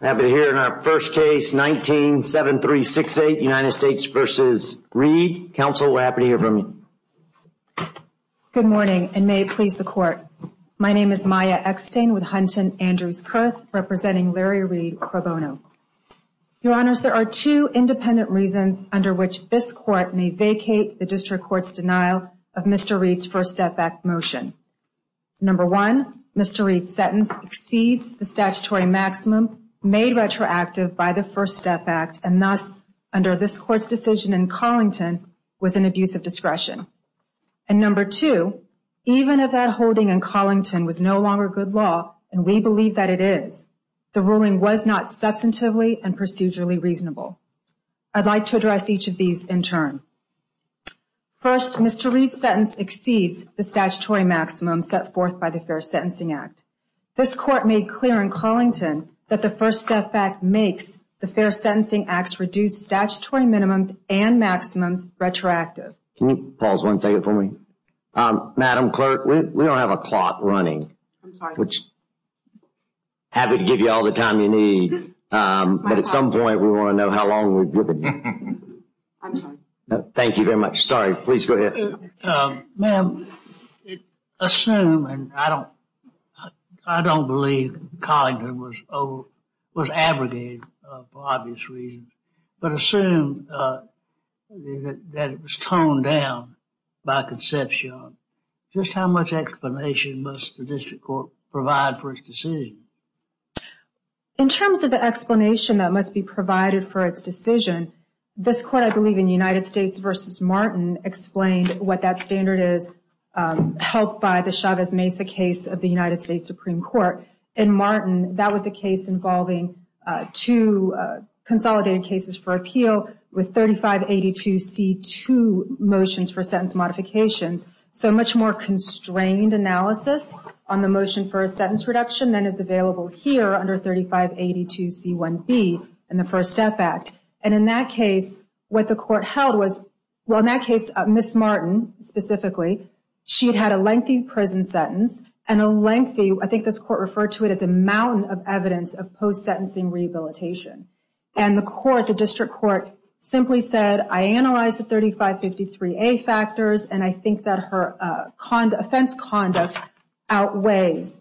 I'm happy to hear in our first case, 19-7368, United States v. Reed. Counsel, we're happy to hear from you. Good morning, and may it please the Court. My name is Maya Eckstein with Hunton Andrews Kurth, representing Larry Reed Pro Bono. Your Honors, there are two independent reasons under which this Court may vacate the District Court's denial of Mr. Reed's first step-back motion. Number one, Mr. Reed's sentence exceeds the statutory maximum made retroactive by the First Step Act, and thus, under this Court's decision in Collington, was an abuse of discretion. And number two, even if that holding in Collington was no longer good law, and we believe that it is, the ruling was not substantively and procedurally reasonable. I'd like to address each of these in turn. First, Mr. Reed's sentence exceeds the statutory maximum set forth by the Fair Sentencing Act. This Court made clear in Collington that the First Step Act makes the Fair Sentencing Act's reduced statutory minimums and maximums retroactive. Can you pause one second for me? Madam Clerk, we don't have a clock running. I'm sorry. Which I'd be happy to give you all the time you need, but at some point we want to know how long we've given you. I'm sorry. Thank you very much. Sorry. Please go ahead. Ma'am, assume, and I don't believe Collington was abrogated for obvious reasons, but assume that it was toned down by conception. Just how much explanation must the District Court provide for its decision? In terms of the explanation that must be provided for its decision, this Court, I believe in United States v. Martin, explained what that standard is, helped by the Chavez-Mesa case of the United States Supreme Court. In Martin, that was a case involving two consolidated cases for appeal with 3582C2 motions for sentence modifications. So much more constrained analysis on the motion for a sentence reduction than is available here under 3582C1B in the First Step Act. And in that case, what the Court held was, well, in that case, Ms. Martin specifically, she had had a lengthy prison sentence and a lengthy, I think this Court referred to it as a mountain of evidence of post-sentencing rehabilitation. And the District Court simply said, I analyzed the 3553A factors, and I think that her offense conduct outweighs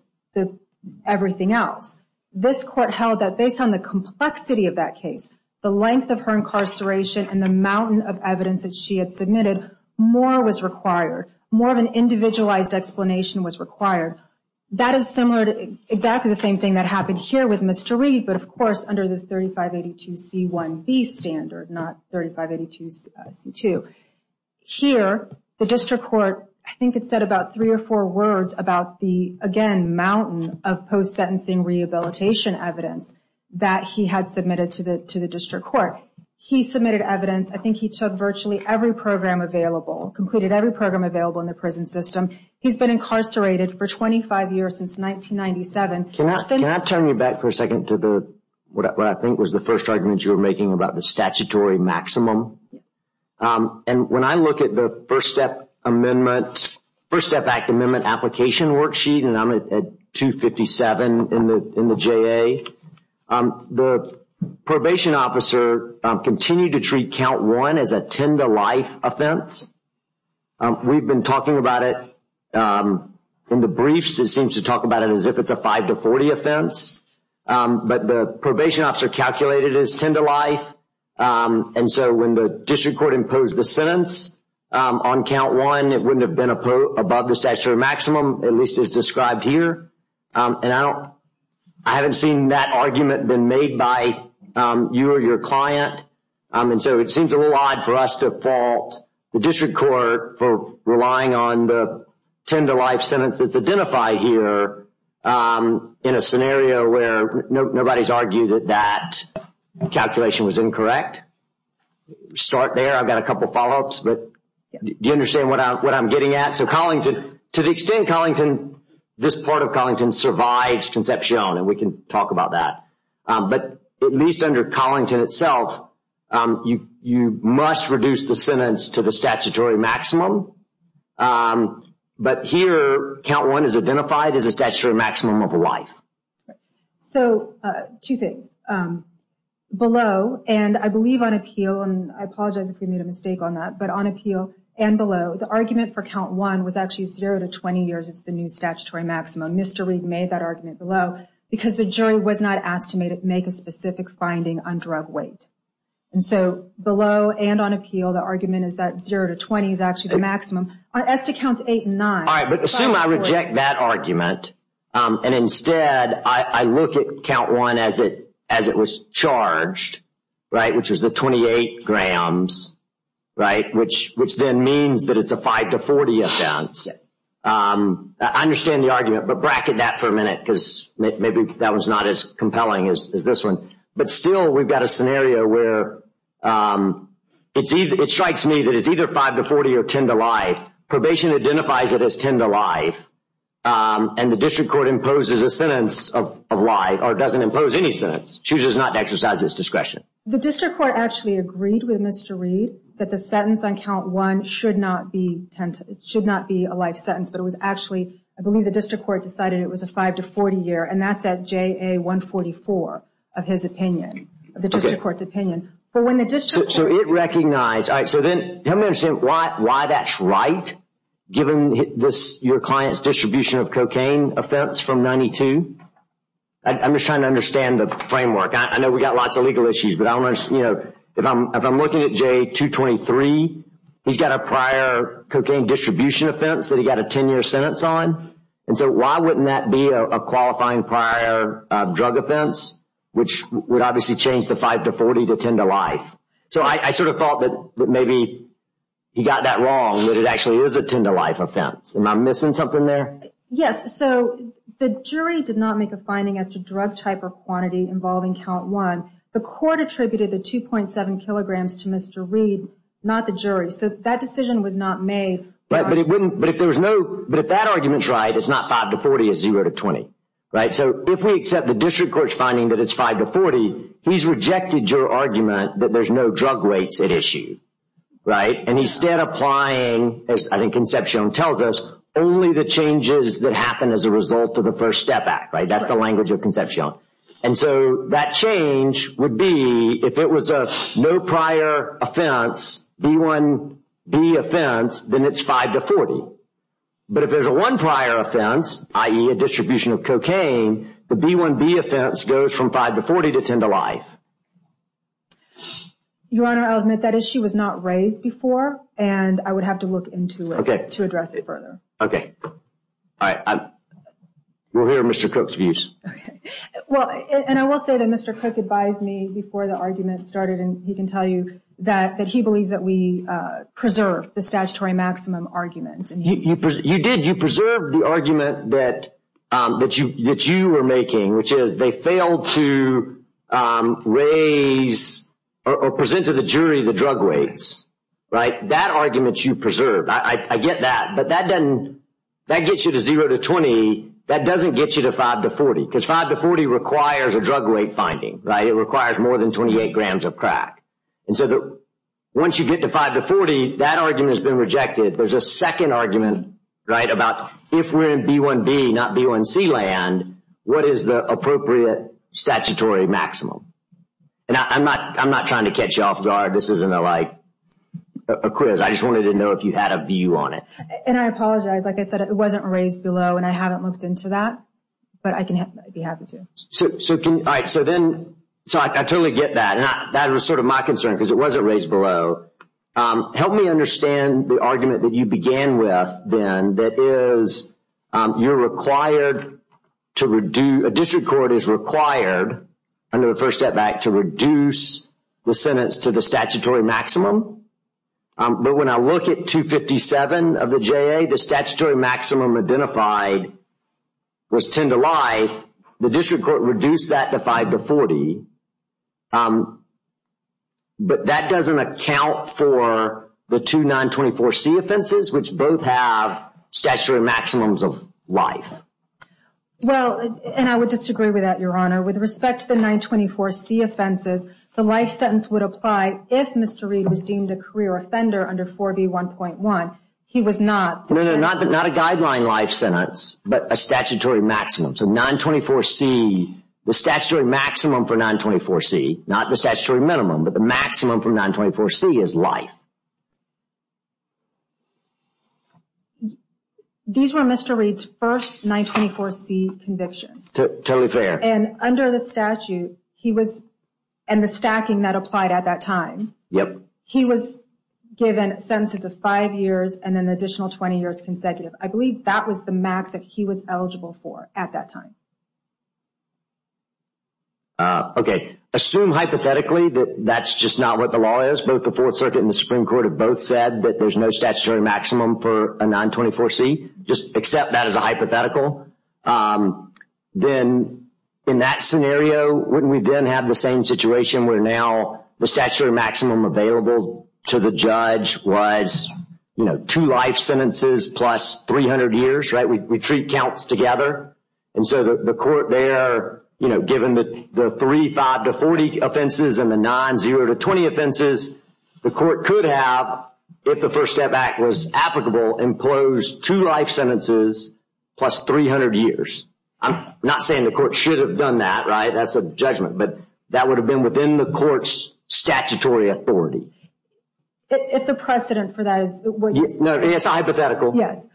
everything else. This Court held that based on the complexity of that case, the length of her incarceration, and the mountain of evidence that she had submitted, more was required. More of an individualized explanation was required. That is similar to exactly the same thing that happened here with Mr. Reed, but of course under the 3582C1B standard, not 3582C2. Here, the District Court, I think it said about three or four words about the, again, mountain of post-sentencing rehabilitation evidence that he had submitted to the District Court. He submitted evidence, I think he took virtually every program available, completed every program available in the prison system. He's been incarcerated for 25 years since 1997. Can I turn you back for a second to what I think was the first argument you were making about the statutory maximum? And when I look at the First Act Amendment Application Worksheet, and I'm at 257 in the JA, the probation officer continued to treat Count 1 as a tend-to-life offense. We've been talking about it in the briefs. It seems to talk about it as if it's a 5-40 offense, but the probation officer calculated it as tend-to-life. And so when the District Court imposed the sentence on Count 1, it wouldn't have been above the statutory maximum, at least as described here. And I haven't seen that argument been made by you or your client. And so it seems a little odd for us to fault the District Court for relying on the tend-to-life sentence that's identified here in a scenario where nobody's argued that that calculation was incorrect. Start there, I've got a couple follow-ups, but do you understand what I'm getting at? So Collington, to the extent Collington, this part of Collington, survives Concepcion, and we can talk about that. But at least under Collington itself, you must reduce the sentence to the statutory maximum. But here, Count 1 is identified as a statutory maximum of a life. So two things. Below, and I believe on appeal, and I apologize if we made a mistake on that, but on appeal and below, the argument for Count 1 was actually zero to 20 years is the new statutory maximum. Mr. Reid made that argument below, because the jury was not asked to make a specific finding on drug weight. And so below and on appeal, the argument is that zero to 20 is actually the maximum. As to Counts 8 and 9... All right, but assume I reject that argument, and instead I look at Count 1 as it was charged, right, which was the 28 grams, right, which then means that it's a 5 to 40 offense. Yes. I understand the argument, but bracket that for a minute, because maybe that one's not as compelling as this one. But still, we've got a scenario where it strikes me that it's either 5 to 40 or 10 to life. Probation identifies it as 10 to life, and the district court imposes a sentence of life, or it doesn't impose any sentence, chooses not to exercise its discretion. The district court actually agreed with Mr. Reid that the sentence on Count 1 should not be a life sentence, but it was actually, I believe the district court decided it was a 5 to 40 year, and that's at JA 144 of his opinion, of the district court's opinion. So it recognized, all right, so then help me understand why that's right, given your client's distribution of cocaine offense from 92? I'm just trying to understand the framework. I know we've got lots of legal issues, but if I'm looking at JA 223, he's got a prior cocaine distribution offense that he got a 10-year sentence on, and so why wouldn't that be a qualifying prior drug offense, which would obviously change the 5 to 40 to 10 to life? So I sort of thought that maybe he got that wrong, that it actually is a 10 to life offense. Am I missing something there? Yes, so the jury did not make a finding as to drug type or quantity involving Count 1. The court attributed the 2.7 kilograms to Mr. Reed, not the jury. So that decision was not made. But if that argument's right, it's not 5 to 40, it's 0 to 20. So if we accept the district court's finding that it's 5 to 40, he's rejected your argument that there's no drug rates at issue. And he's still applying, as I think Concepcion tells us, only the changes that happen as a result of the First Step Act. That's the language of Concepcion. And so that change would be if it was a no prior offense, B1B offense, then it's 5 to 40. But if there's a one prior offense, i.e. a distribution of cocaine, the B1B offense goes from 5 to 40 to 10 to life. Your Honor, I'll admit that issue was not raised before, and I would have to look into it to address it further. Okay. All right. We'll hear Mr. Cook's views. Okay. Well, and I will say that Mr. Cook advised me before the argument started, and he can tell you that he believes that we preserve the statutory maximum argument. You did. You preserved the argument that you were making, which is they failed to raise or present to the jury the drug rates. Right? That argument you preserved. I get that, but that gets you to 0 to 20. That doesn't get you to 5 to 40, because 5 to 40 requires a drug rate finding. It requires more than 28 grams of crack. And so once you get to 5 to 40, that argument has been rejected. There's a second argument about if we're in B1B, not B1C land, what is the appropriate statutory maximum? And I'm not trying to catch you off guard. This isn't a quiz. I just wanted to know if you had a view on it. And I apologize. Like I said, it wasn't raised below, and I haven't looked into that. But I can be happy to. All right. So then I totally get that. That was sort of my concern, because it wasn't raised below. Help me understand the argument that you began with, then, that is you're required to reduce – a district court is required under the First Step Act to reduce the sentence to the statutory maximum. But when I look at 257 of the JA, the statutory maximum identified was 10 to life. The district court reduced that to 5 to 40. But that doesn't account for the two 924C offenses, which both have statutory maximums of life. Well, and I would disagree with that, Your Honor. With respect to the 924C offenses, the life sentence would apply if Mr. Reed was deemed a career offender under 4B1.1. He was not. No, no, not a guideline life sentence, but a statutory maximum. So 924C, the statutory maximum for 924C, not the statutory minimum, but the maximum for 924C is life. These were Mr. Reed's first 924C convictions. Totally fair. And under the statute, he was – and the stacking that applied at that time, he was given sentences of five years and an additional 20 years consecutive. I believe that was the max that he was eligible for at that time. Okay. Assume hypothetically that that's just not what the law is. Both the Fourth Circuit and the Supreme Court have both said that there's no statutory maximum for a 924C. Just accept that as a hypothetical. Then in that scenario, wouldn't we then have the same situation where now the statutory maximum available to the judge was, you know, two life sentences plus 300 years, right? We treat counts together. And so the court there, you know, given the three 5-40 offenses and the nine 0-20 offenses, the court could have, if the First Step Act was applicable, imposed two life sentences plus 300 years. I'm not saying the court should have done that, right? That's a judgment. But that would have been within the court's statutory authority. If the precedent for that is what you're saying. No, it's a hypothetical. Yes.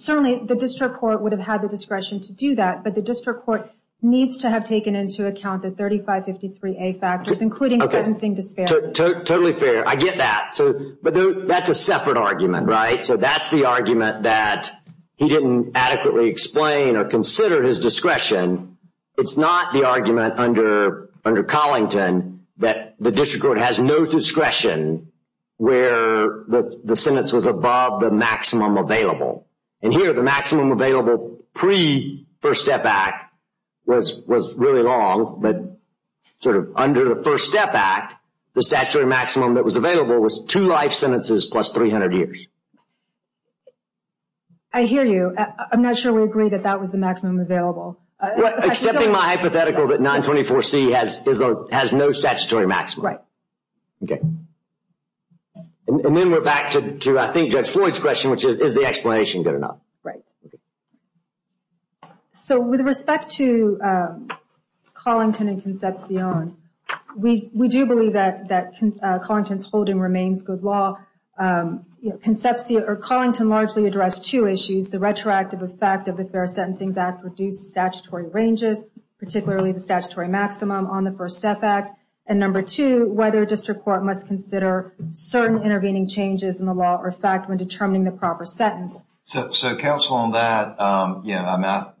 Certainly the district court would have had the discretion to do that, but the district court needs to have taken into account the 3553A factors, including sentencing disparities. Totally fair. I get that. But that's a separate argument, right? So that's the argument that he didn't adequately explain or consider his discretion. It's not the argument under Collington that the district court has no discretion where the sentence was above the maximum available. And here the maximum available pre-First Step Act was really long, but sort of under the First Step Act, the statutory maximum that was available was two life sentences plus 300 years. I hear you. I'm not sure we agree that that was the maximum available. Except in my hypothetical that 924C has no statutory maximum. Right. Okay. And then we're back to, I think, Judge Floyd's question, which is, is the explanation good enough? Right. So with respect to Collington and Concepcion, we do believe that Collington's holding remains good law. Collington largely addressed two issues, the retroactive effect of the Fair Sentencing Act reduced statutory ranges, particularly the statutory maximum on the First Step Act. And number two, whether district court must consider certain intervening changes in the law or fact when determining the proper sentence. So counsel on that, I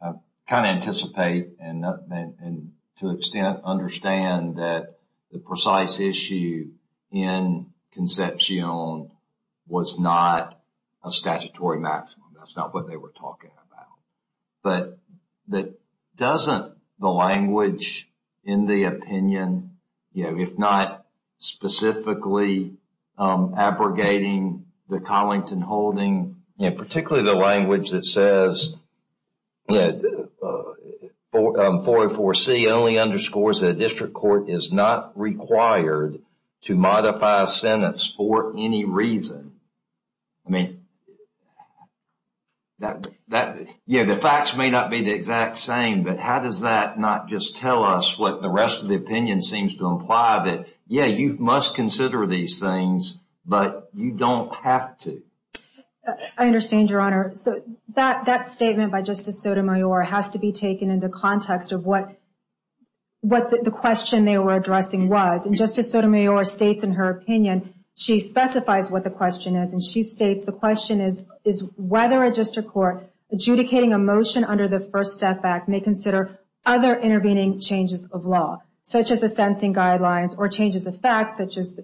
kind of anticipate and to an extent understand that the precise issue in Concepcion was not a statutory maximum. That's not what they were talking about. But doesn't the language in the opinion, if not specifically abrogating the Collington holding, particularly the language that says, 404C only underscores that a district court is not required to modify sentence for any reason. I mean, yeah, the facts may not be the exact same, but how does that not just tell us what the rest of the opinion seems to imply that, yeah, you must consider these things, but you don't have to. I understand your honor. So that statement by Justice Sotomayor has to be taken into context of what the question they were addressing was. And Justice Sotomayor states in her opinion, she specifies what the question is. And she states, the question is whether a district court adjudicating a motion under the First Step Act may consider other intervening changes of law, such as the sentencing guidelines or changes of facts such as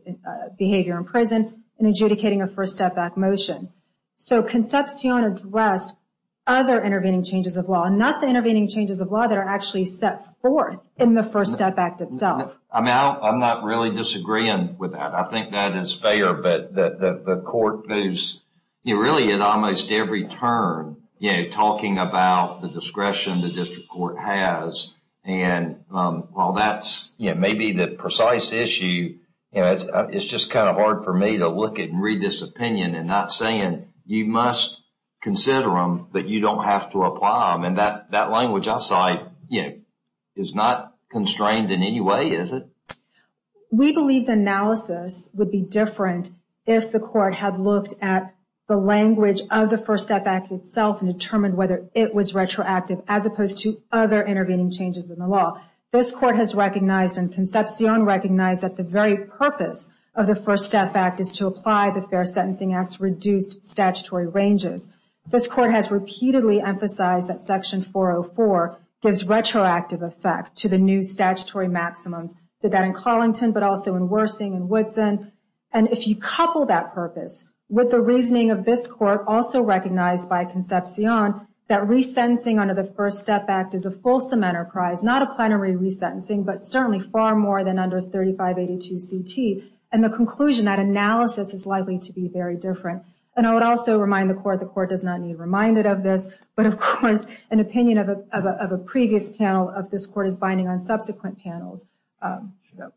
behavior in prison in adjudicating a First Step Act motion. So Concepcion addressed other intervening changes of law, not the intervening changes of law that are actually set forth in the First Step Act itself. I mean, I'm not really disagreeing with that. I think that is fair. But the court moves really at almost every turn, you know, talking about the discretion the district court has. And while that's maybe the precise issue, it's just kind of hard for me to look at and read this opinion and not saying you must consider them, but you don't have to apply them. And that language I cite is not constrained in any way, is it? We believe the analysis would be different if the court had looked at the language of the First Step Act itself and determined whether it was intervening changes in the law. This court has recognized and Concepcion recognized that the very purpose of the First Step Act is to apply the Fair Sentencing Act's reduced statutory ranges. This court has repeatedly emphasized that Section 404 gives retroactive effect to the new statutory maximums, did that in Collington but also in Worsing and Woodson. And if you couple that purpose with the reasoning of this court, also recognized by Concepcion, that resentencing under the First Step Act is a fulsome enterprise, not a plenary resentencing, but certainly far more than under 3582 CT. And the conclusion, that analysis is likely to be very different. And I would also remind the court, the court does not need reminded of this, but of course an opinion of a previous panel of this court is binding on subsequent panels. So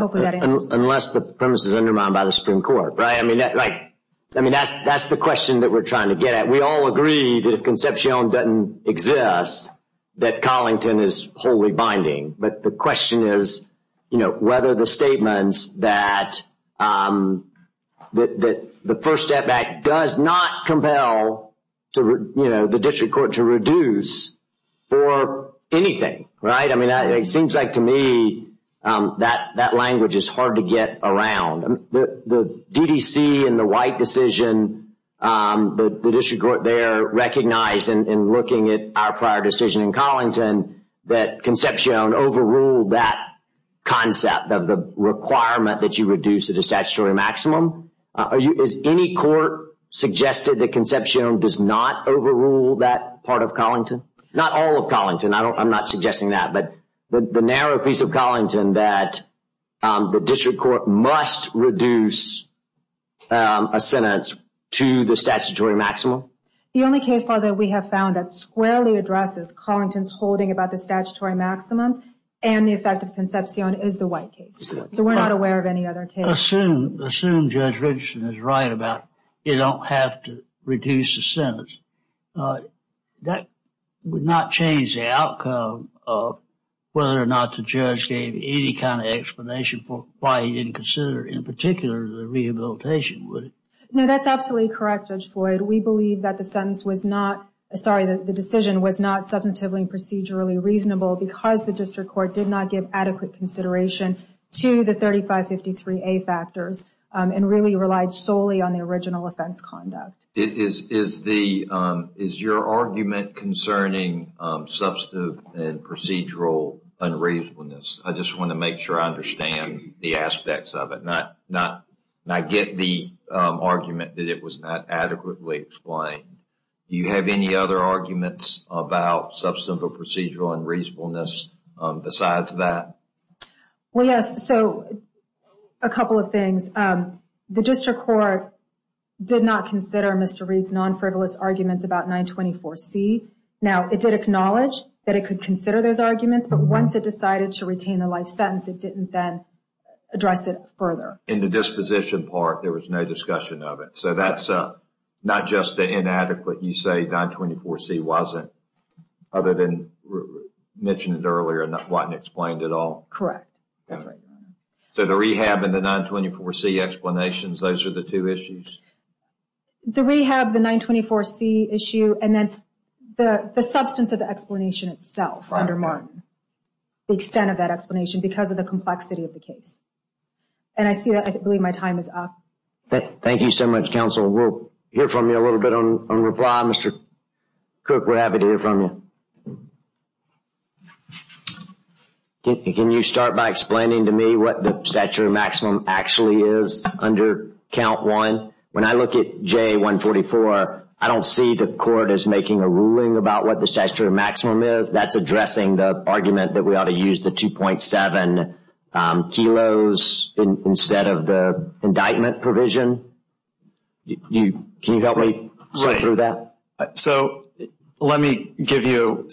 hopefully that answers the question. Unless the premise is undermined by the Supreme Court, right? I mean, that's the question that we're trying to get at. We all agree that if Concepcion doesn't exist, that Collington is wholly binding. But the question is, you know, whether the statements that the First Step Act does not compel, you know, the district court to reduce for anything, right? I mean, it seems like to me that language is hard to get around. The DDC and the White decision, the district court, they are recognized in looking at our prior decision in Collington, that Concepcion overruled that concept of the requirement that you reduce to the statutory maximum. Has any court suggested that Concepcion does not overrule that part of Collington? Not all of Collington. I'm not suggesting that. But the narrow piece of Collington that the district court must reduce a sentence to the statutory maximum? The only case law that we have found that squarely addresses Collington's holding about the statutory maximums and the effect of Concepcion is the White case. So we're not aware of any other case. Assume Judge Richardson is right about you don't have to reduce a sentence. That would not change the outcome of whether or not the judge gave any kind of explanation for why he didn't consider in particular the rehabilitation, would it? No, that's absolutely correct, Judge Floyd. We believe that the sentence was not, sorry, the decision was not subjectively procedurally reasonable because the district court did not give adequate consideration to the 3553A factors and really relied solely on the original offense conduct. Is your argument concerning substantive and procedural unreasonableness? I just want to make sure I understand the aspects of it, not get the argument that it was not adequately explained. Do you have any other arguments about substantive or procedural unreasonableness besides that? Well, yes. So a couple of things. The district court did not consider Mr. Reed's non-frivolous arguments about 924C. Now, it did acknowledge that it could consider those arguments, but once it decided to retain the life sentence, it didn't then address it further. In the disposition part, there was no discussion of it. So that's not just inadequate. You say 924C wasn't, other than mentioned earlier, wasn't explained at all? Correct. So the rehab and the 924C explanations, those are the two issues? The rehab, the 924C issue, and then the substance of the explanation itself undermined the extent of that explanation because of the complexity of the case. And I believe my time is up. Thank you so much, counsel. We'll hear from you a little bit on reply. Mr. Cook, we're happy to hear from you. Can you start by explaining to me what the statutory maximum actually is under count one? When I look at J144, I don't see the court as making a ruling about what the statutory maximum is. That's addressing the argument that we ought to use the 2.7 kilos instead of the indictment provision. Can you help me sort through that? So let me give you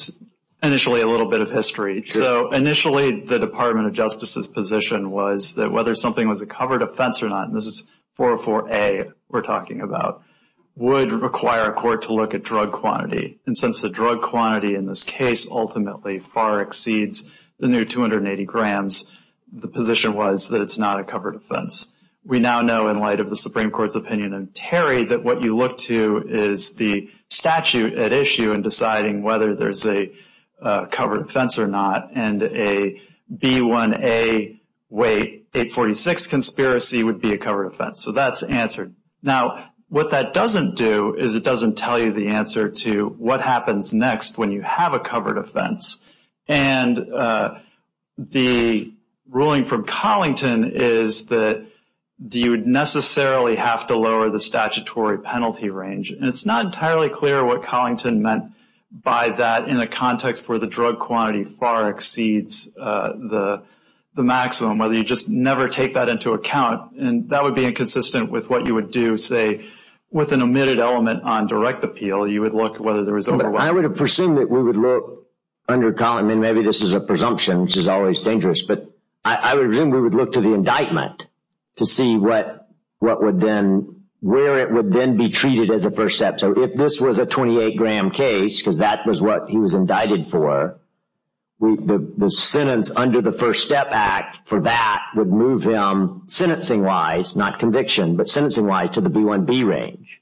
initially a little bit of history. So initially the Department of Justice's position was that whether something was a covered offense or not, and this is 404A we're talking about, would require a court to look at drug quantity. And since the drug quantity in this case ultimately far exceeds the new 280 grams, the position was that it's not a covered offense. We now know in light of the Supreme Court's opinion and Terry that what you look to is the statute at issue in deciding whether there's a covered offense or not, and a B1A, wait, 846 conspiracy would be a covered offense. So that's answered. Now what that doesn't do is it doesn't tell you the answer to what happens next when you have a covered offense. And the ruling from Collington is that you would necessarily have to lower the penalty range, and it's not entirely clear what Collington meant by that in a context where the drug quantity far exceeds the maximum, whether you just never take that into account. And that would be inconsistent with what you would do, say, with an omitted element on direct appeal. You would look at whether there was overwhelming. I would have presumed that we would look under Collington, and maybe this is a presumption, which is always dangerous, but I would presume we would look to the indictment to see what would then be treated as a first step. So if this was a 28-gram case, because that was what he was indicted for, the sentence under the First Step Act for that would move him, sentencing-wise, not conviction, but sentencing-wise, to the B1B range.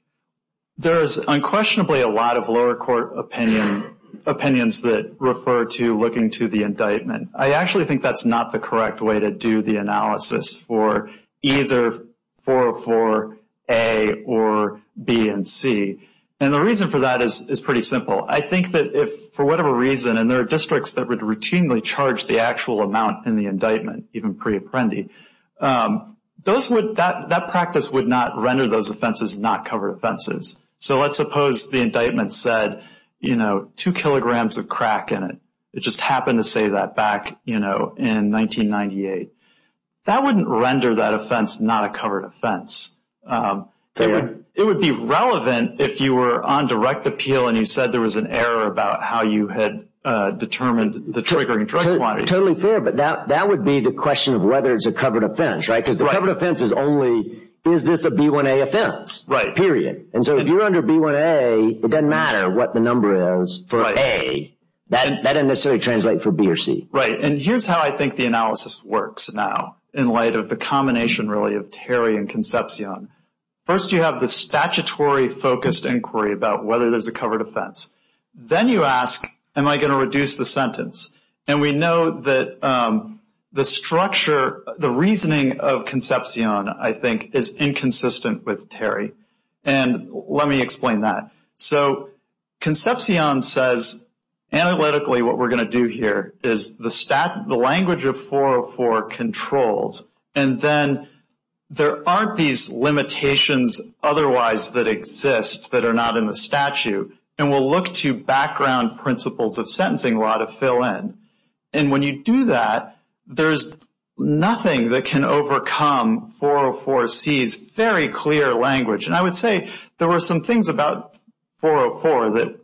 There is unquestionably a lot of lower court opinions that refer to looking to the indictment. I actually think that's not the correct way to do the analysis for either 404A or B and C. And the reason for that is pretty simple. I think that if, for whatever reason, and there are districts that would routinely charge the actual amount in the indictment, even pre-apprendi, that practice would not render those offenses not covered offenses. So let's suppose the indictment said, you know, it just happened to say that back, you know, in 1998. That wouldn't render that offense not a covered offense. It would be relevant if you were on direct appeal and you said there was an error about how you had determined the triggering drug quantity. Totally fair, but that would be the question of whether it's a covered offense, right? Because the covered offense is only, is this a B1A offense? Right. Period. And so if you're under B1A, it doesn't matter what the number is for A. That doesn't necessarily translate for B or C. Right. And here's how I think the analysis works now in light of the combination, really, of Terry and Concepcion. First you have the statutory focused inquiry about whether there's a covered offense. Then you ask, am I going to reduce the sentence? And we know that the structure, the reasoning of Concepcion, I think, is inconsistent with Terry. And let me explain that. So Concepcion says analytically what we're going to do here is the language of 404 controls. And then there aren't these limitations otherwise that exist that are not in the statute. And we'll look to background principles of sentencing law to fill in. And when you do that, there's nothing that can overcome 404C's very clear language. And I would say there were some things about 404 that,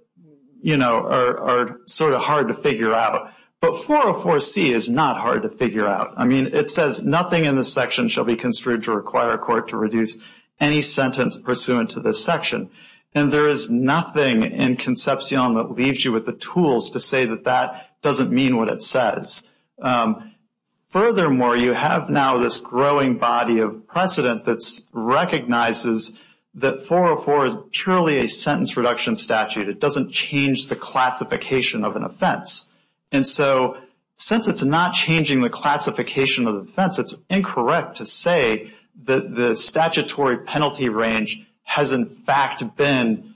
you know, are sort of hard to figure out. But 404C is not hard to figure out. I mean, it says nothing in this section shall be construed to require a court to reduce any sentence pursuant to this section. And there is nothing in Concepcion that leaves you with the tools to say that that doesn't mean what it says. Furthermore, you have now this growing body of precedent that recognizes that 404 is purely a sentence reduction statute. It doesn't change the classification of an offense. And so since it's not changing the classification of the offense, it's incorrect to say that the statutory penalty range has, in fact, been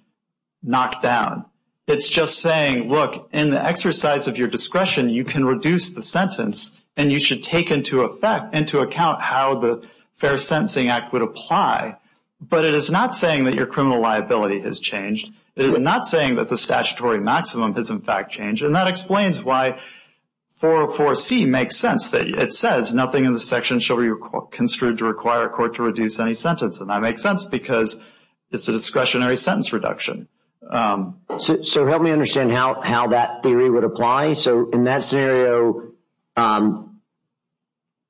knocked down. It's just saying, look, in the exercise of your discretion, you can reduce the sentence and you should take into account how the Fair Sentencing Act would apply. But it is not saying that your criminal liability has changed. It is not saying that the statutory maximum has, in fact, changed. And that explains why 404C makes sense. It says nothing in this section shall be construed to require a court to reduce any sentence. And that makes sense because it's a discretionary sentence reduction. So help me understand how that theory would apply. So in that scenario,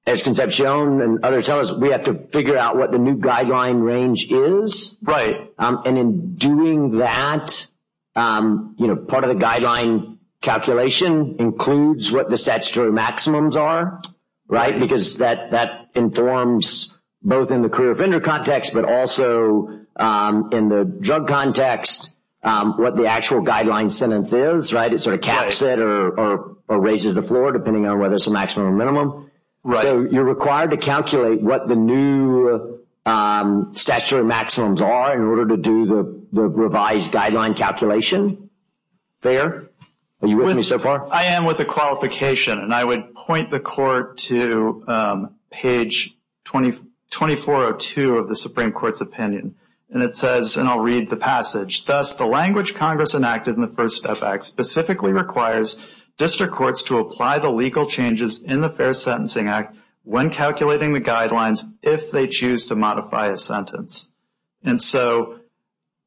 as Concepcion and others tell us, we have to figure out what the new guideline range is. Right. And in doing that, you know, part of the guideline calculation includes what the statutory maximums are, right, because that informs both in the career offender context, but also in the drug context what the actual guideline sentence is, right? It sort of caps it or raises the floor depending on whether it's a maximum or minimum. So you're required to calculate what the new statutory maximums are in order to do the revised guideline calculation. Thayer, are you with me so far? I am with the qualification. And I would point the court to page 2402 of the Supreme Court's opinion. And it says, and I'll read the passage, thus the language Congress enacted in the First Step Act specifically requires district courts to apply the legal changes in the Fair Sentencing Act when calculating the guidelines if they choose to modify a sentence. And so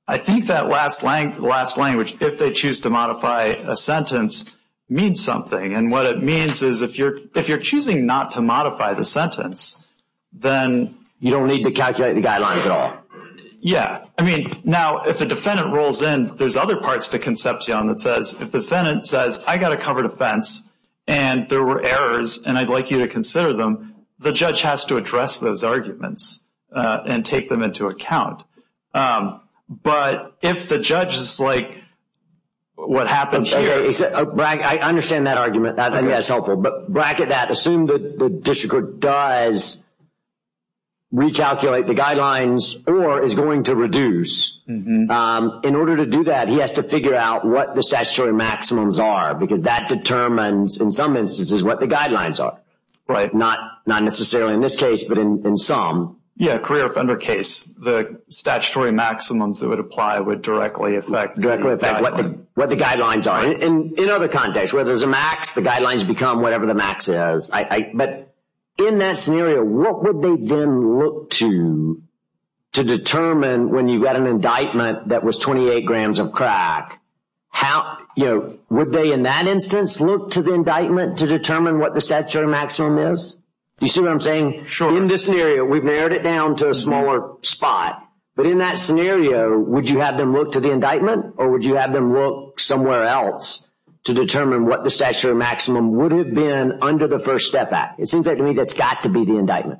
I think that last language, if they choose to modify a sentence, means something. And what it means is if you're choosing not to modify the sentence, then... You don't need to calculate the guidelines at all. Yeah. I mean, now if a defendant rolls in, there's other parts to Concepcion that says, if the defendant says, I've got to cover defense and there were errors and I'd like you to consider them, the judge has to address those arguments and take them into account. But if the judge is like what happens here... I understand that argument. I think that's helpful. But bracket that, assume the district court does recalculate the guidelines or is going to reduce. In order to do that, he has to figure out what the statutory maximums are because that determines in some instances what the guidelines are. Right. Not necessarily in this case, but in some. Yeah, a career offender case, the statutory maximums that would apply would directly affect... Directly affect what the guidelines are. In other contexts, where there's a max, the guidelines become whatever the max is. But in that scenario, what would they then look to, to determine when you've got an indictment that was 28 grams of crack, would they in that instance look to the indictment to determine what the statutory maximum is? Do you see what I'm saying? Sure. In this scenario, we've narrowed it down to a smaller spot. But in that scenario, would you have them look to the indictment or would you have them look somewhere else to determine what the statutory maximum would have been under the First Step Act? It seems like to me that's got to be the indictment.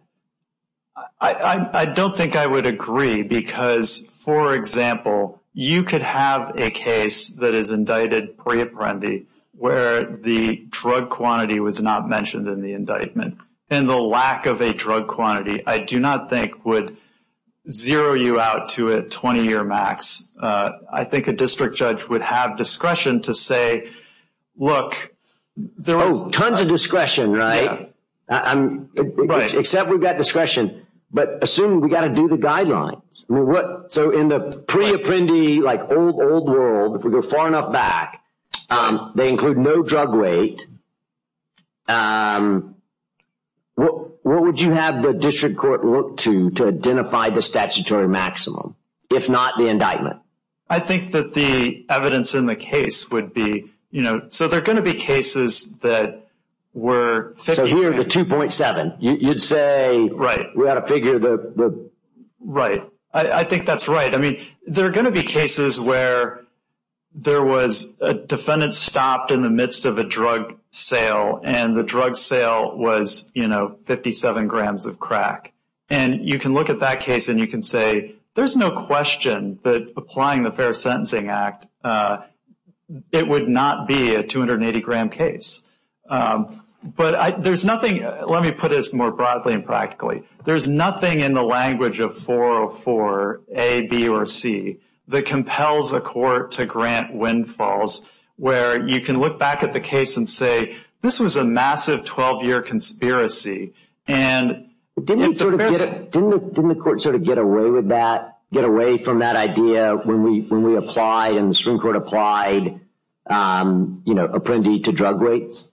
I don't think I would agree because, for example, you could have a case that is indicted pre-apprendi where the drug quantity was not mentioned in the indictment and the lack of a drug quantity, I do not think, would zero you out to a 20-year max. I think a district judge would have discretion to say, look, there was— Oh, tons of discretion, right? Right. Except we've got discretion. But assuming we've got to do the guidelines, so in the pre-apprendi, like old, old world, if we go far enough back, they include no drug weight. What would you have the district court look to to identify the statutory maximum, if not the indictment? I think that the evidence in the case would be— so there are going to be cases that were— So here, the 2.7, you'd say— Right. We've got to figure the— Right. I think that's right. I mean, there are going to be cases where there was a defendant stopped in the midst of a drug sale and the drug sale was 57 grams of crack. And you can look at that case and you can say, there's no question that applying the Fair Sentencing Act, it would not be a 280-gram case. But there's nothing— let me put this more broadly and practically. There's nothing in the language of 404a, b, or c that compels a court to grant windfalls where you can look back at the case and say, this was a massive 12-year conspiracy. Didn't the court sort of get away with that, get away from that idea when we applied and the Supreme Court applied, you know, apprendi to drug rates?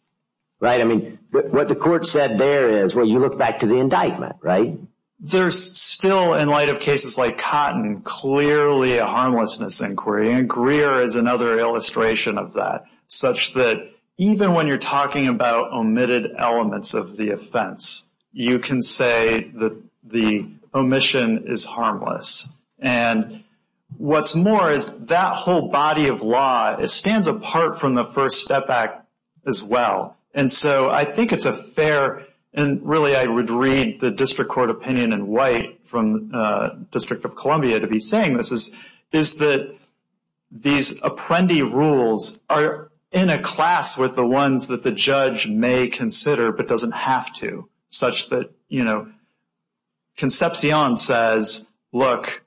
I mean, what the court said there is, well, you look back to the indictment, right? There's still, in light of cases like Cotton, clearly a harmlessness inquiry. And Greer is another illustration of that, such that even when you're talking about omitted elements of the offense, you can say that the omission is harmless. And what's more is that whole body of law, it stands apart from the First Step Act as well. And so I think it's a fair— and really I would read the district court opinion in white from the District of Columbia to be saying this— is that these apprendi rules are in a class with the ones that the judge may consider, but doesn't have to, such that, you know, Concepcion says, look,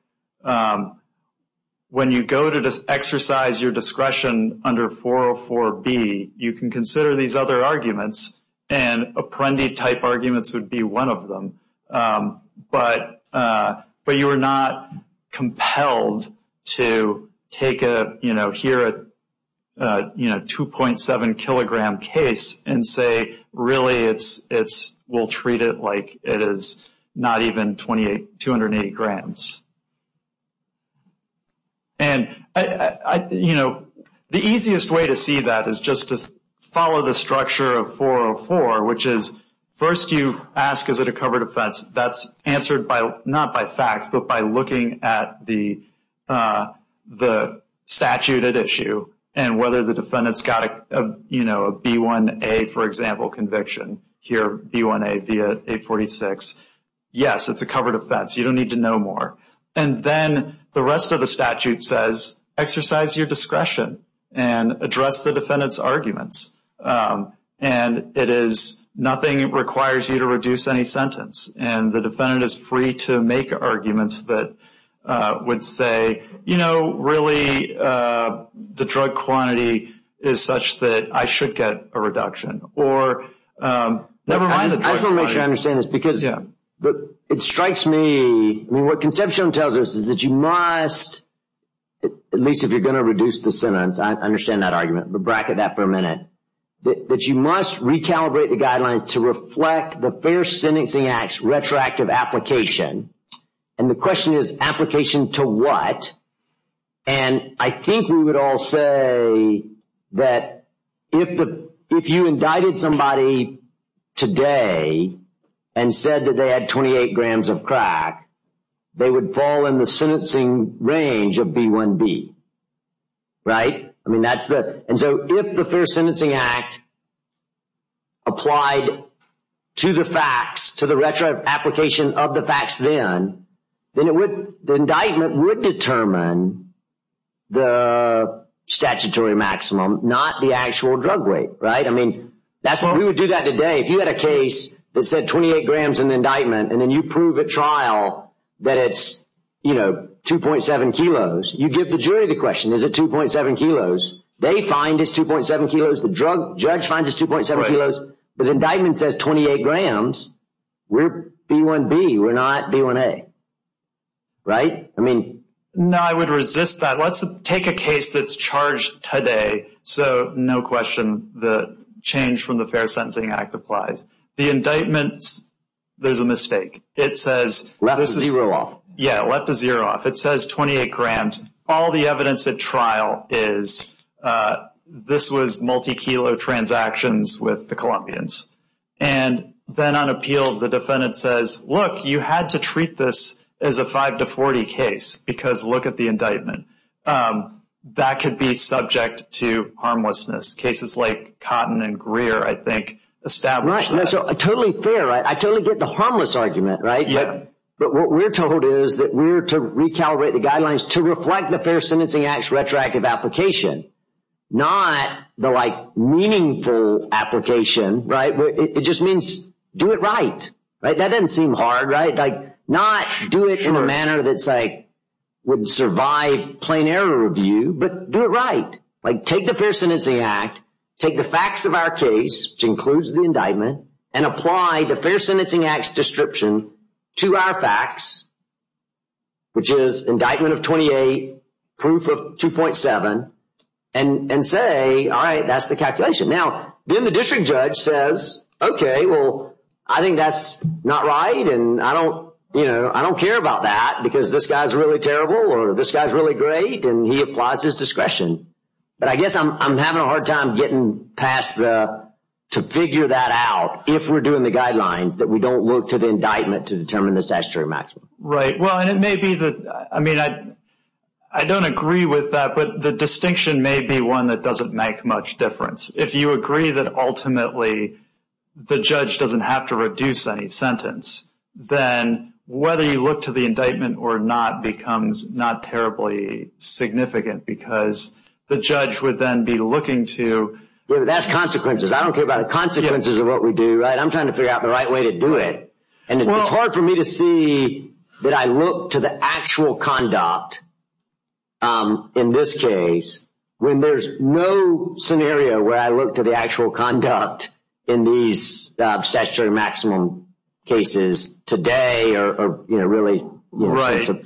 when you go to exercise your discretion under 404B, you can consider these other arguments, and apprendi-type arguments would be one of them. But you are not compelled to take a, you know, here a 2.7-kilogram case and say really we'll treat it like it is not even 208 grams. And, you know, the easiest way to see that is just to follow the structure of 404, which is first you ask is it a covered offense. That's answered not by facts, but by looking at the statute at issue and whether the defendant's got a, you know, a B1A, for example, conviction. Here B1A via 846. Yes, it's a covered offense. You don't need to know more. And then the rest of the statute says exercise your discretion and address the defendant's arguments. And it is—nothing requires you to reduce any sentence. And the defendant is free to make arguments that would say, you know, really the drug quantity is such that I should get a reduction. Or never mind the drug quantity. I just want to make sure I understand this because it strikes me— I mean, what Conception tells us is that you must, at least if you're going to reduce the sentence, I understand that argument, but bracket that for a minute, that you must recalibrate the guidelines to reflect the Fair Sentencing Act's retroactive application. And the question is application to what? And I think we would all say that if you indicted somebody today and said that they had 28 grams of crack, they would fall in the sentencing range of B1B. Right? I mean, that's the—and so if the Fair Sentencing Act applied to the facts, to the retroactive application of the facts then, then it would—the indictment would determine the statutory maximum, not the actual drug weight, right? I mean, that's why we would do that today. If you had a case that said 28 grams in the indictment and then you prove at trial that it's, you know, 2.7 kilos, you give the jury the question, is it 2.7 kilos? They find it's 2.7 kilos. The judge finds it's 2.7 kilos. But the indictment says 28 grams. We're B1B. We're not B1A. Right? I mean— No, I would resist that. Let's take a case that's charged today. So no question the change from the Fair Sentencing Act applies. The indictment, there's a mistake. It says— Left a zero off. Yeah, left a zero off. It says 28 grams. All the evidence at trial is this was multi-kilo transactions with the Colombians. And then on appeal, the defendant says, look, you had to treat this as a 5 to 40 case because look at the indictment. That could be subject to harmlessness. Cases like Cotton and Greer, I think, established that. Totally fair, right? I totally get the harmless argument, right? Yeah. But what we're told is that we're to recalibrate the guidelines to reflect the Fair Sentencing Act's retroactive application, not the, like, meaningful application, right? It just means do it right. Right? That doesn't seem hard, right? Like, not do it in a manner that's like would survive plain error review, but do it right. Like, take the Fair Sentencing Act, take the facts of our case, which includes the indictment, and apply the Fair Sentencing Act's description to our facts, which is indictment of 28, proof of 2.7, and say, all right, that's the calculation. Now, then the district judge says, okay, well, I think that's not right, and I don't care about that because this guy's really terrible or this guy's really great, and he applies his discretion. But I guess I'm having a hard time getting past the, to figure that out, if we're doing the guidelines, that we don't look to the indictment to determine the statutory maximum. Right. Well, and it may be that, I mean, I don't agree with that, but the distinction may be one that doesn't make much difference. If you agree that ultimately the judge doesn't have to reduce any sentence, then whether you look to the indictment or not becomes not terribly significant because the judge would then be looking to. That's consequences. I don't care about the consequences of what we do. I'm trying to figure out the right way to do it. And it's hard for me to see that I look to the actual conduct in this case when there's no scenario where I look to the actual conduct in these statutory maximum cases today or really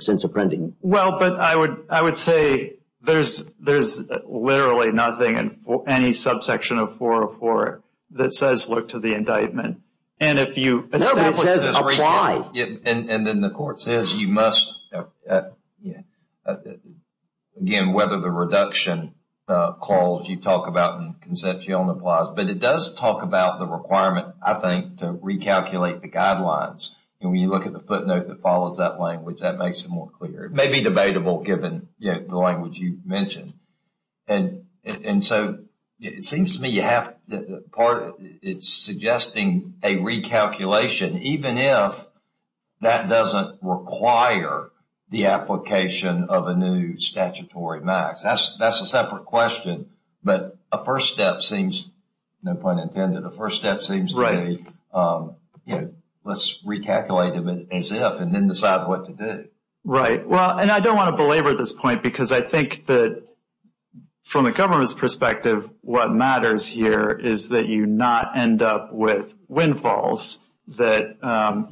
since appending. Well, but I would say there's literally nothing in any subsection of 404 that says look to the indictment. And if you establish this. No, it says apply. And then the court says you must, again, whether the reduction clause you talk about and the concept you own applies. But it does talk about the requirement, I think, to recalculate the guidelines. When you look at the footnote that follows that language, that makes it more clear. It may be debatable given the language you mentioned. And so it seems to me you have part of it suggesting a recalculation even if that doesn't require the application of a new statutory max. That's a separate question. But a first step seems, no pun intended, a first step seems to be let's recalculate them as if and then decide what to do. Right. Well, and I don't want to belabor this point because I think that from a government's perspective what matters here is that you not end up with windfalls that,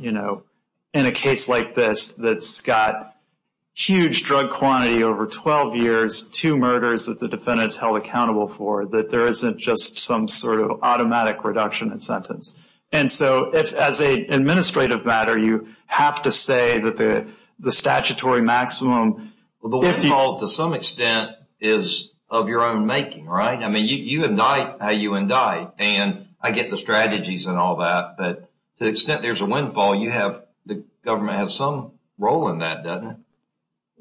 you know, in a case like this that's got huge drug quantity over 12 years, two murders that the defendant's held accountable for, that there isn't just some sort of automatic reduction in sentence. And so as an administrative matter, you have to say that the statutory maximum, if you... Well, the windfall to some extent is of your own making, right? I mean, you indict how you indict. And I get the strategies and all that. But to the extent there's a windfall, the government has some role in that, doesn't it?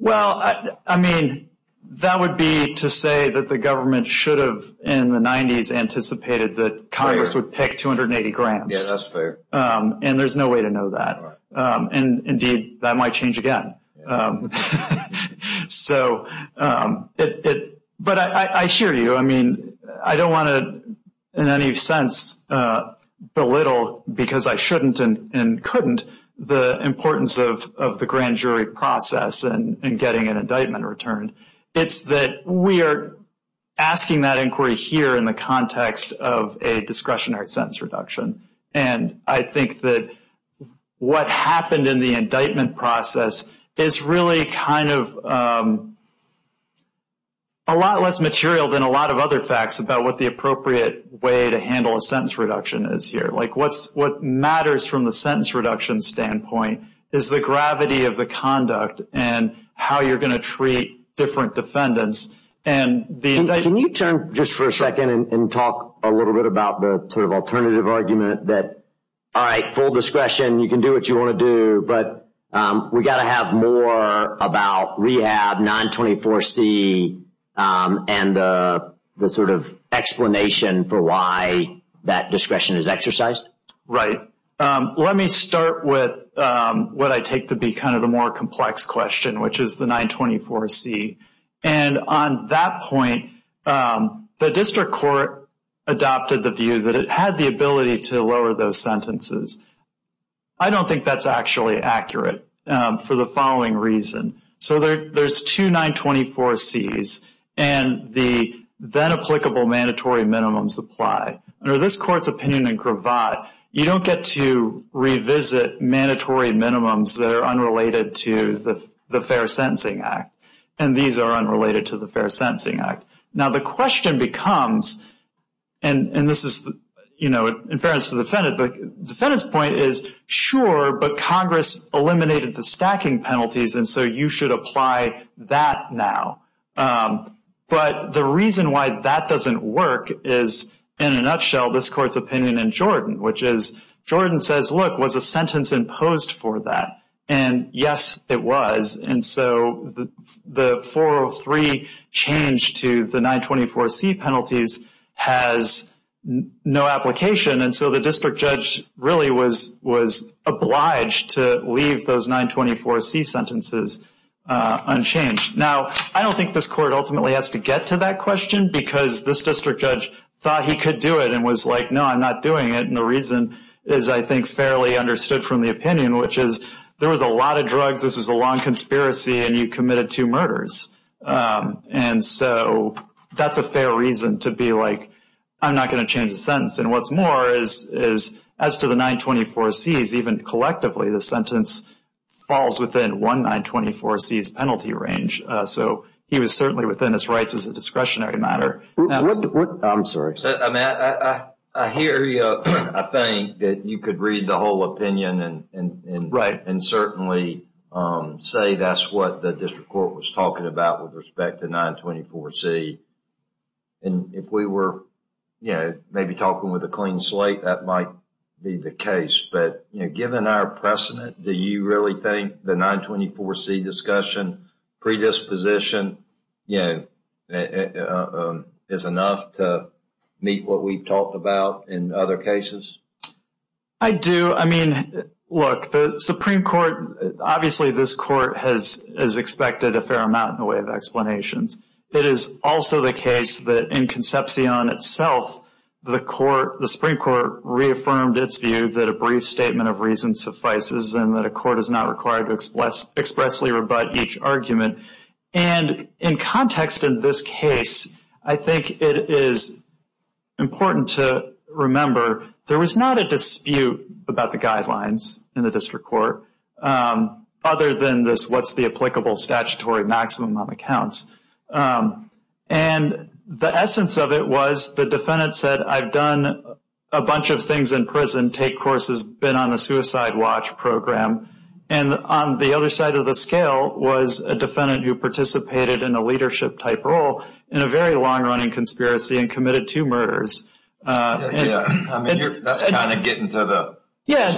Well, I mean, that would be to say that the government should have in the 90s anticipated that Congress would pick 280 grams. Yeah, that's fair. And there's no way to know that. And indeed, that might change again. So, but I hear you. I mean, I don't want to in any sense belittle, because I shouldn't and couldn't, the importance of the grand jury process and getting an indictment returned. It's that we are asking that inquiry here in the context of a discretionary sentence reduction. And I think that what happened in the indictment process is really kind of a lot less material than a lot of other facts about what the appropriate way to handle a sentence reduction is here. Like what matters from the sentence reduction standpoint is the gravity of the conduct and how you're going to treat different defendants. Can you turn just for a second and talk a little bit about the sort of alternative argument that, all right, full discretion, you can do what you want to do, but we've got to have more about rehab, 924C, and the sort of explanation for why that discretion is exercised? Right. Let me start with what I take to be kind of the more complex question, which is the 924C. And on that point, the district court adopted the view that it had the ability to lower those sentences. I don't think that's actually accurate for the following reason. So there's two 924Cs, and the then-applicable mandatory minimums apply. Under this Court's opinion in gravat, you don't get to revisit mandatory minimums that are unrelated to the Fair Sentencing Act, and these are unrelated to the Fair Sentencing Act. Now, the question becomes, and this is, you know, in fairness to the defendant, the defendant's point is, sure, but Congress eliminated the stacking penalties, and so you should apply that now. But the reason why that doesn't work is, in a nutshell, this Court's opinion in Jordan, which is, Jordan says, look, was a sentence imposed for that? And yes, it was. And so the 403 change to the 924C penalties has no application, and so the district judge really was obliged to leave those 924C sentences unchanged. Now, I don't think this Court ultimately has to get to that question because this district judge thought he could do it and was like, no, I'm not doing it, and the reason is, I think, fairly understood from the opinion, which is, there was a lot of drugs, this was a long conspiracy, and you committed two murders. And so that's a fair reason to be like, I'm not going to change the sentence. And what's more is, as to the 924Cs, even collectively, the sentence falls within one 924C's penalty range. So he was certainly within his rights as a discretionary matter. I'm sorry. I mean, I hear you. I think that you could read the whole opinion and certainly say that's what the district court was talking about with respect to 924C. And if we were, you know, maybe talking with a clean slate, that might be the case. But, you know, given our precedent, do you really think the 924C discussion predisposition, you know, is enough to meet what we've talked about in other cases? I do. I mean, look, the Supreme Court, obviously this Court has expected a fair amount in the way of explanations. It is also the case that in Concepcion itself, the Supreme Court reaffirmed its view that a brief statement of reason suffices and that a court is not required to expressly rebut each argument. And in context in this case, I think it is important to remember there was not a dispute about the guidelines in the district court, other than this what's the applicable statutory maximum on the counts. And the essence of it was the defendant said, I've done a bunch of things in prison, take courses, been on the suicide watch program. And on the other side of the scale was a defendant who participated in a leadership-type role in a very long-running conspiracy and committed two murders. Yeah, I mean, that's kind of getting to the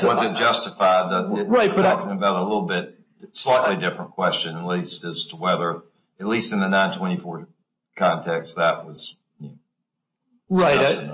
wasn't justified. You're talking about a little bit slightly different question, at least, as to whether, at least in the 924 context, that was. Right.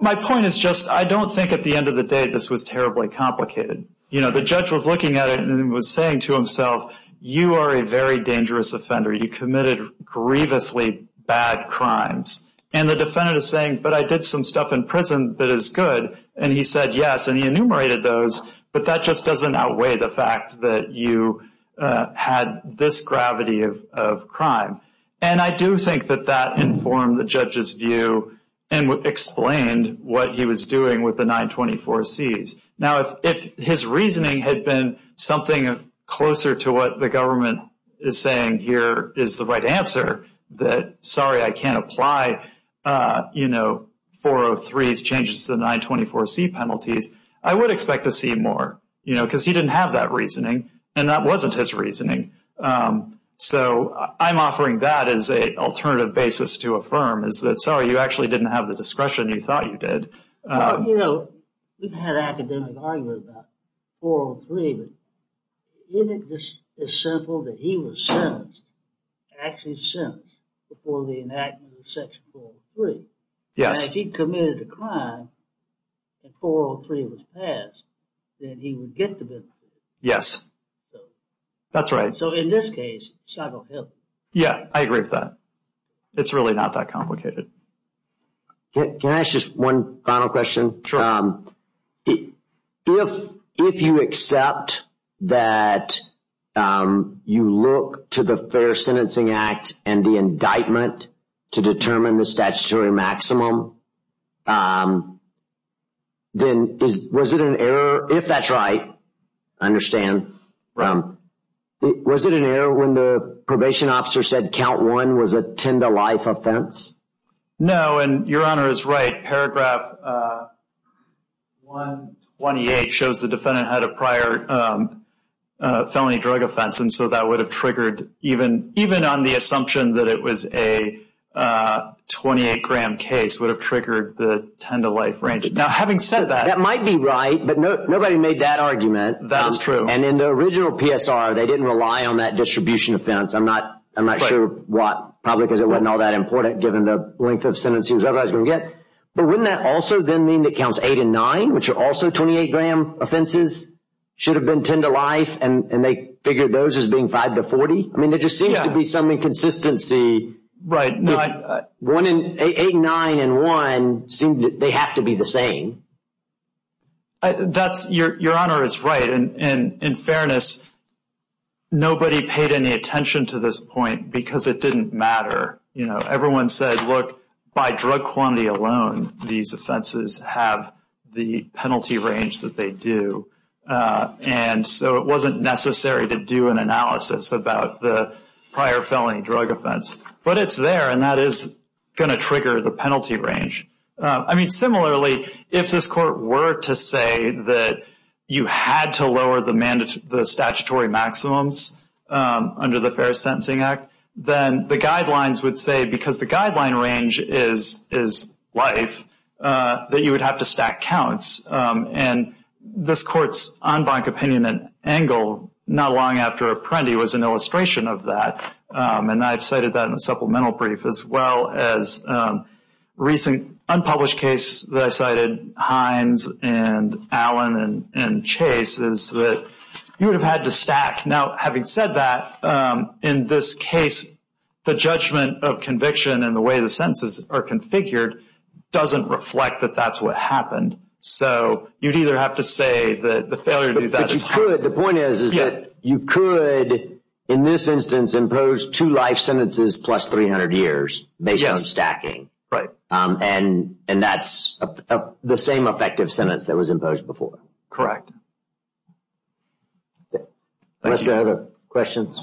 My point is just I don't think at the end of the day this was terribly complicated. You know, the judge was looking at it and was saying to himself, you are a very dangerous offender. You committed grievously bad crimes. And the defendant is saying, but I did some stuff in prison that is good. And he said yes, and he enumerated those. But that just doesn't outweigh the fact that you had this gravity of crime. And I do think that that informed the judge's view and explained what he was doing with the 924Cs. Now, if his reasoning had been something closer to what the government is saying here is the right answer, that sorry, I can't apply, you know, 403s changes to the 924C penalties, I would expect to see more, you know, because he didn't have that reasoning, and that wasn't his reasoning. So I'm offering that as an alternative basis to affirm is that, sorry, you actually didn't have the discretion you thought you did. Well, you know, we've had academic argument about 403, but isn't it just as simple that he was sentenced, actually sentenced, before the enactment of Section 403? Yes. And if he committed a crime and 403 was passed, then he would get the benefit. Yes, that's right. So in this case, psychohelic. Yeah, I agree with that. It's really not that complicated. Can I ask just one final question? Sure. If you accept that you look to the Fair Sentencing Act and the indictment to determine the statutory maximum, then was it an error, if that's right, I understand, was it an error when the probation officer said count one was a 10-to-life offense? No, and Your Honor is right. Paragraph 128 shows the defendant had a prior felony drug offense, and so that would have triggered, even on the assumption that it was a 28-gram case, would have triggered the 10-to-life range. Now, having said that. That might be right, but nobody made that argument. That is true. And in the original PSR, they didn't rely on that distribution offense. I'm not sure what, probably because it wasn't all that important, given the length of sentence he was otherwise going to get. But wouldn't that also then mean that counts eight and nine, which are also 28-gram offenses, should have been 10-to-life, and they figured those as being 5-to-40? I mean, there just seems to be some inconsistency. Right. Eight, nine, and one, they have to be the same. Your Honor is right. And in fairness, nobody paid any attention to this point because it didn't matter. Everyone said, look, by drug quantity alone, these offenses have the penalty range that they do. And so it wasn't necessary to do an analysis about the prior felony drug offense. But it's there, and that is going to trigger the penalty range. I mean, similarly, if this Court were to say that you had to lower the statutory maximums under the Fair Sentencing Act, then the guidelines would say, because the guideline range is life, that you would have to stack counts. And this Court's en banc opinion and angle not long after Apprendi was an illustration of that, and I've cited that in a supplemental brief, as well as a recent unpublished case that I cited, Hines and Allen and Chase, is that you would have had to stack. Now, having said that, in this case, the judgment of conviction and the way the sentences are configured doesn't reflect that that's what happened. So you'd either have to say that the failure to do that is hard. But the point is that you could, in this instance, impose two life sentences plus 300 years based on stacking. Right. And that's the same effective sentence that was imposed before. Correct. Are there other questions?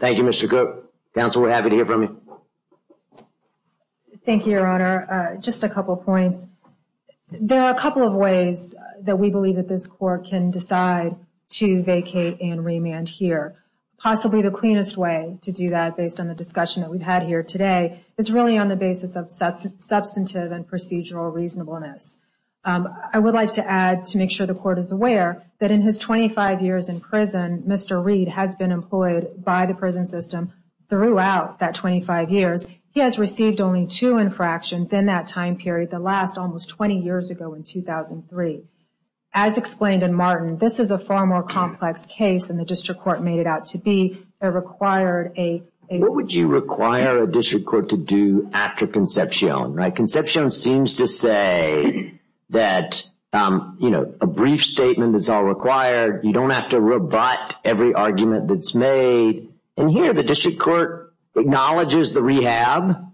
Thank you, Mr. Cook. Counsel, we're happy to hear from you. Thank you, Your Honor. Just a couple of points. There are a couple of ways that we believe that this Court can decide to vacate and remand here. Possibly the cleanest way to do that, based on the discussion that we've had here today, is really on the basis of substantive and procedural reasonableness. I would like to add, to make sure the Court is aware, that in his 25 years in prison, Mr. Reed has been employed by the prison system throughout that 25 years. He has received only two infractions in that time period, the last almost 20 years ago in 2003. As explained in Martin, this is a far more complex case than the District Court made it out to be. It required a… What would you require a District Court to do after concepcion? Concepcion seems to say that, you know, a brief statement is all required. You don't have to rebut every argument that's made. And here, the District Court acknowledges the rehab,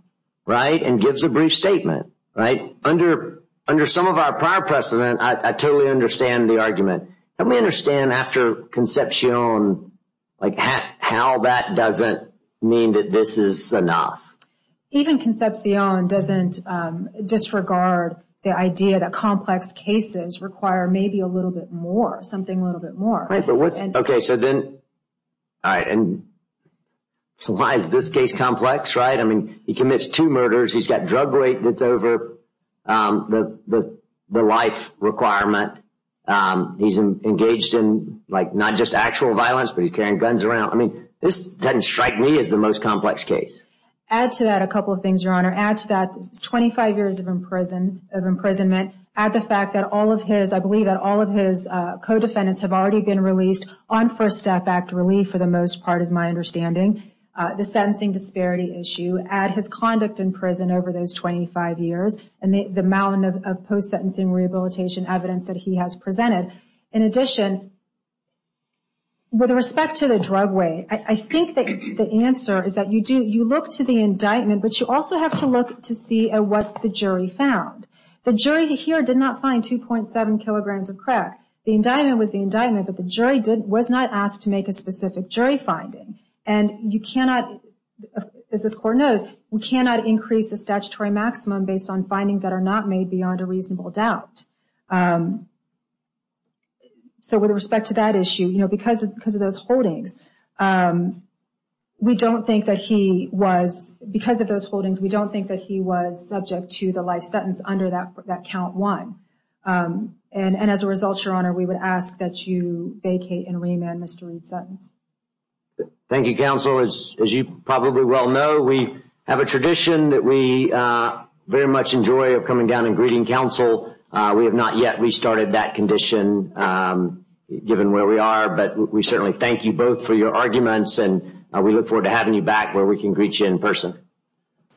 right, and gives a brief statement, right? Under some of our prior precedent, I totally understand the argument. Let me understand after concepcion, like, how that doesn't mean that this is enough. Even concepcion doesn't disregard the idea that complex cases require maybe a little bit more, something a little bit more. Right, but what's… Okay, so then… All right, and so why is this case complex, right? I mean, he commits two murders. He's got drug rape that's over the life requirement. He's engaged in, like, not just actual violence, but he's carrying guns around. I mean, this doesn't strike me as the most complex case. Add to that a couple of things, Your Honor. Add to that 25 years of imprisonment. Add the fact that all of his… I believe that all of his co-defendants have already been released on First Step Act relief, for the most part, is my understanding. The sentencing disparity issue. Add his conduct in prison over those 25 years and the amount of post-sentencing rehabilitation evidence that he has presented. In addition, with respect to the drug way, I think that the answer is that you do… You look to the indictment, but you also have to look to see what the jury found. The jury here did not find 2.7 kilograms of crack. The indictment was the indictment, but the jury was not asked to make a specific jury finding. And you cannot, as this Court knows, you cannot increase the statutory maximum based on findings that are not made beyond a reasonable doubt. So, with respect to that issue, you know, because of those holdings, we don't think that he was… And as a result, Your Honor, we would ask that you vacate and remand Mr. Reed Sutton. Thank you, Counsel. As you probably well know, we have a tradition that we very much enjoy of coming down and greeting counsel. We have not yet restarted that condition, given where we are, but we certainly thank you both for your arguments and we look forward to having you back where we can greet you in person.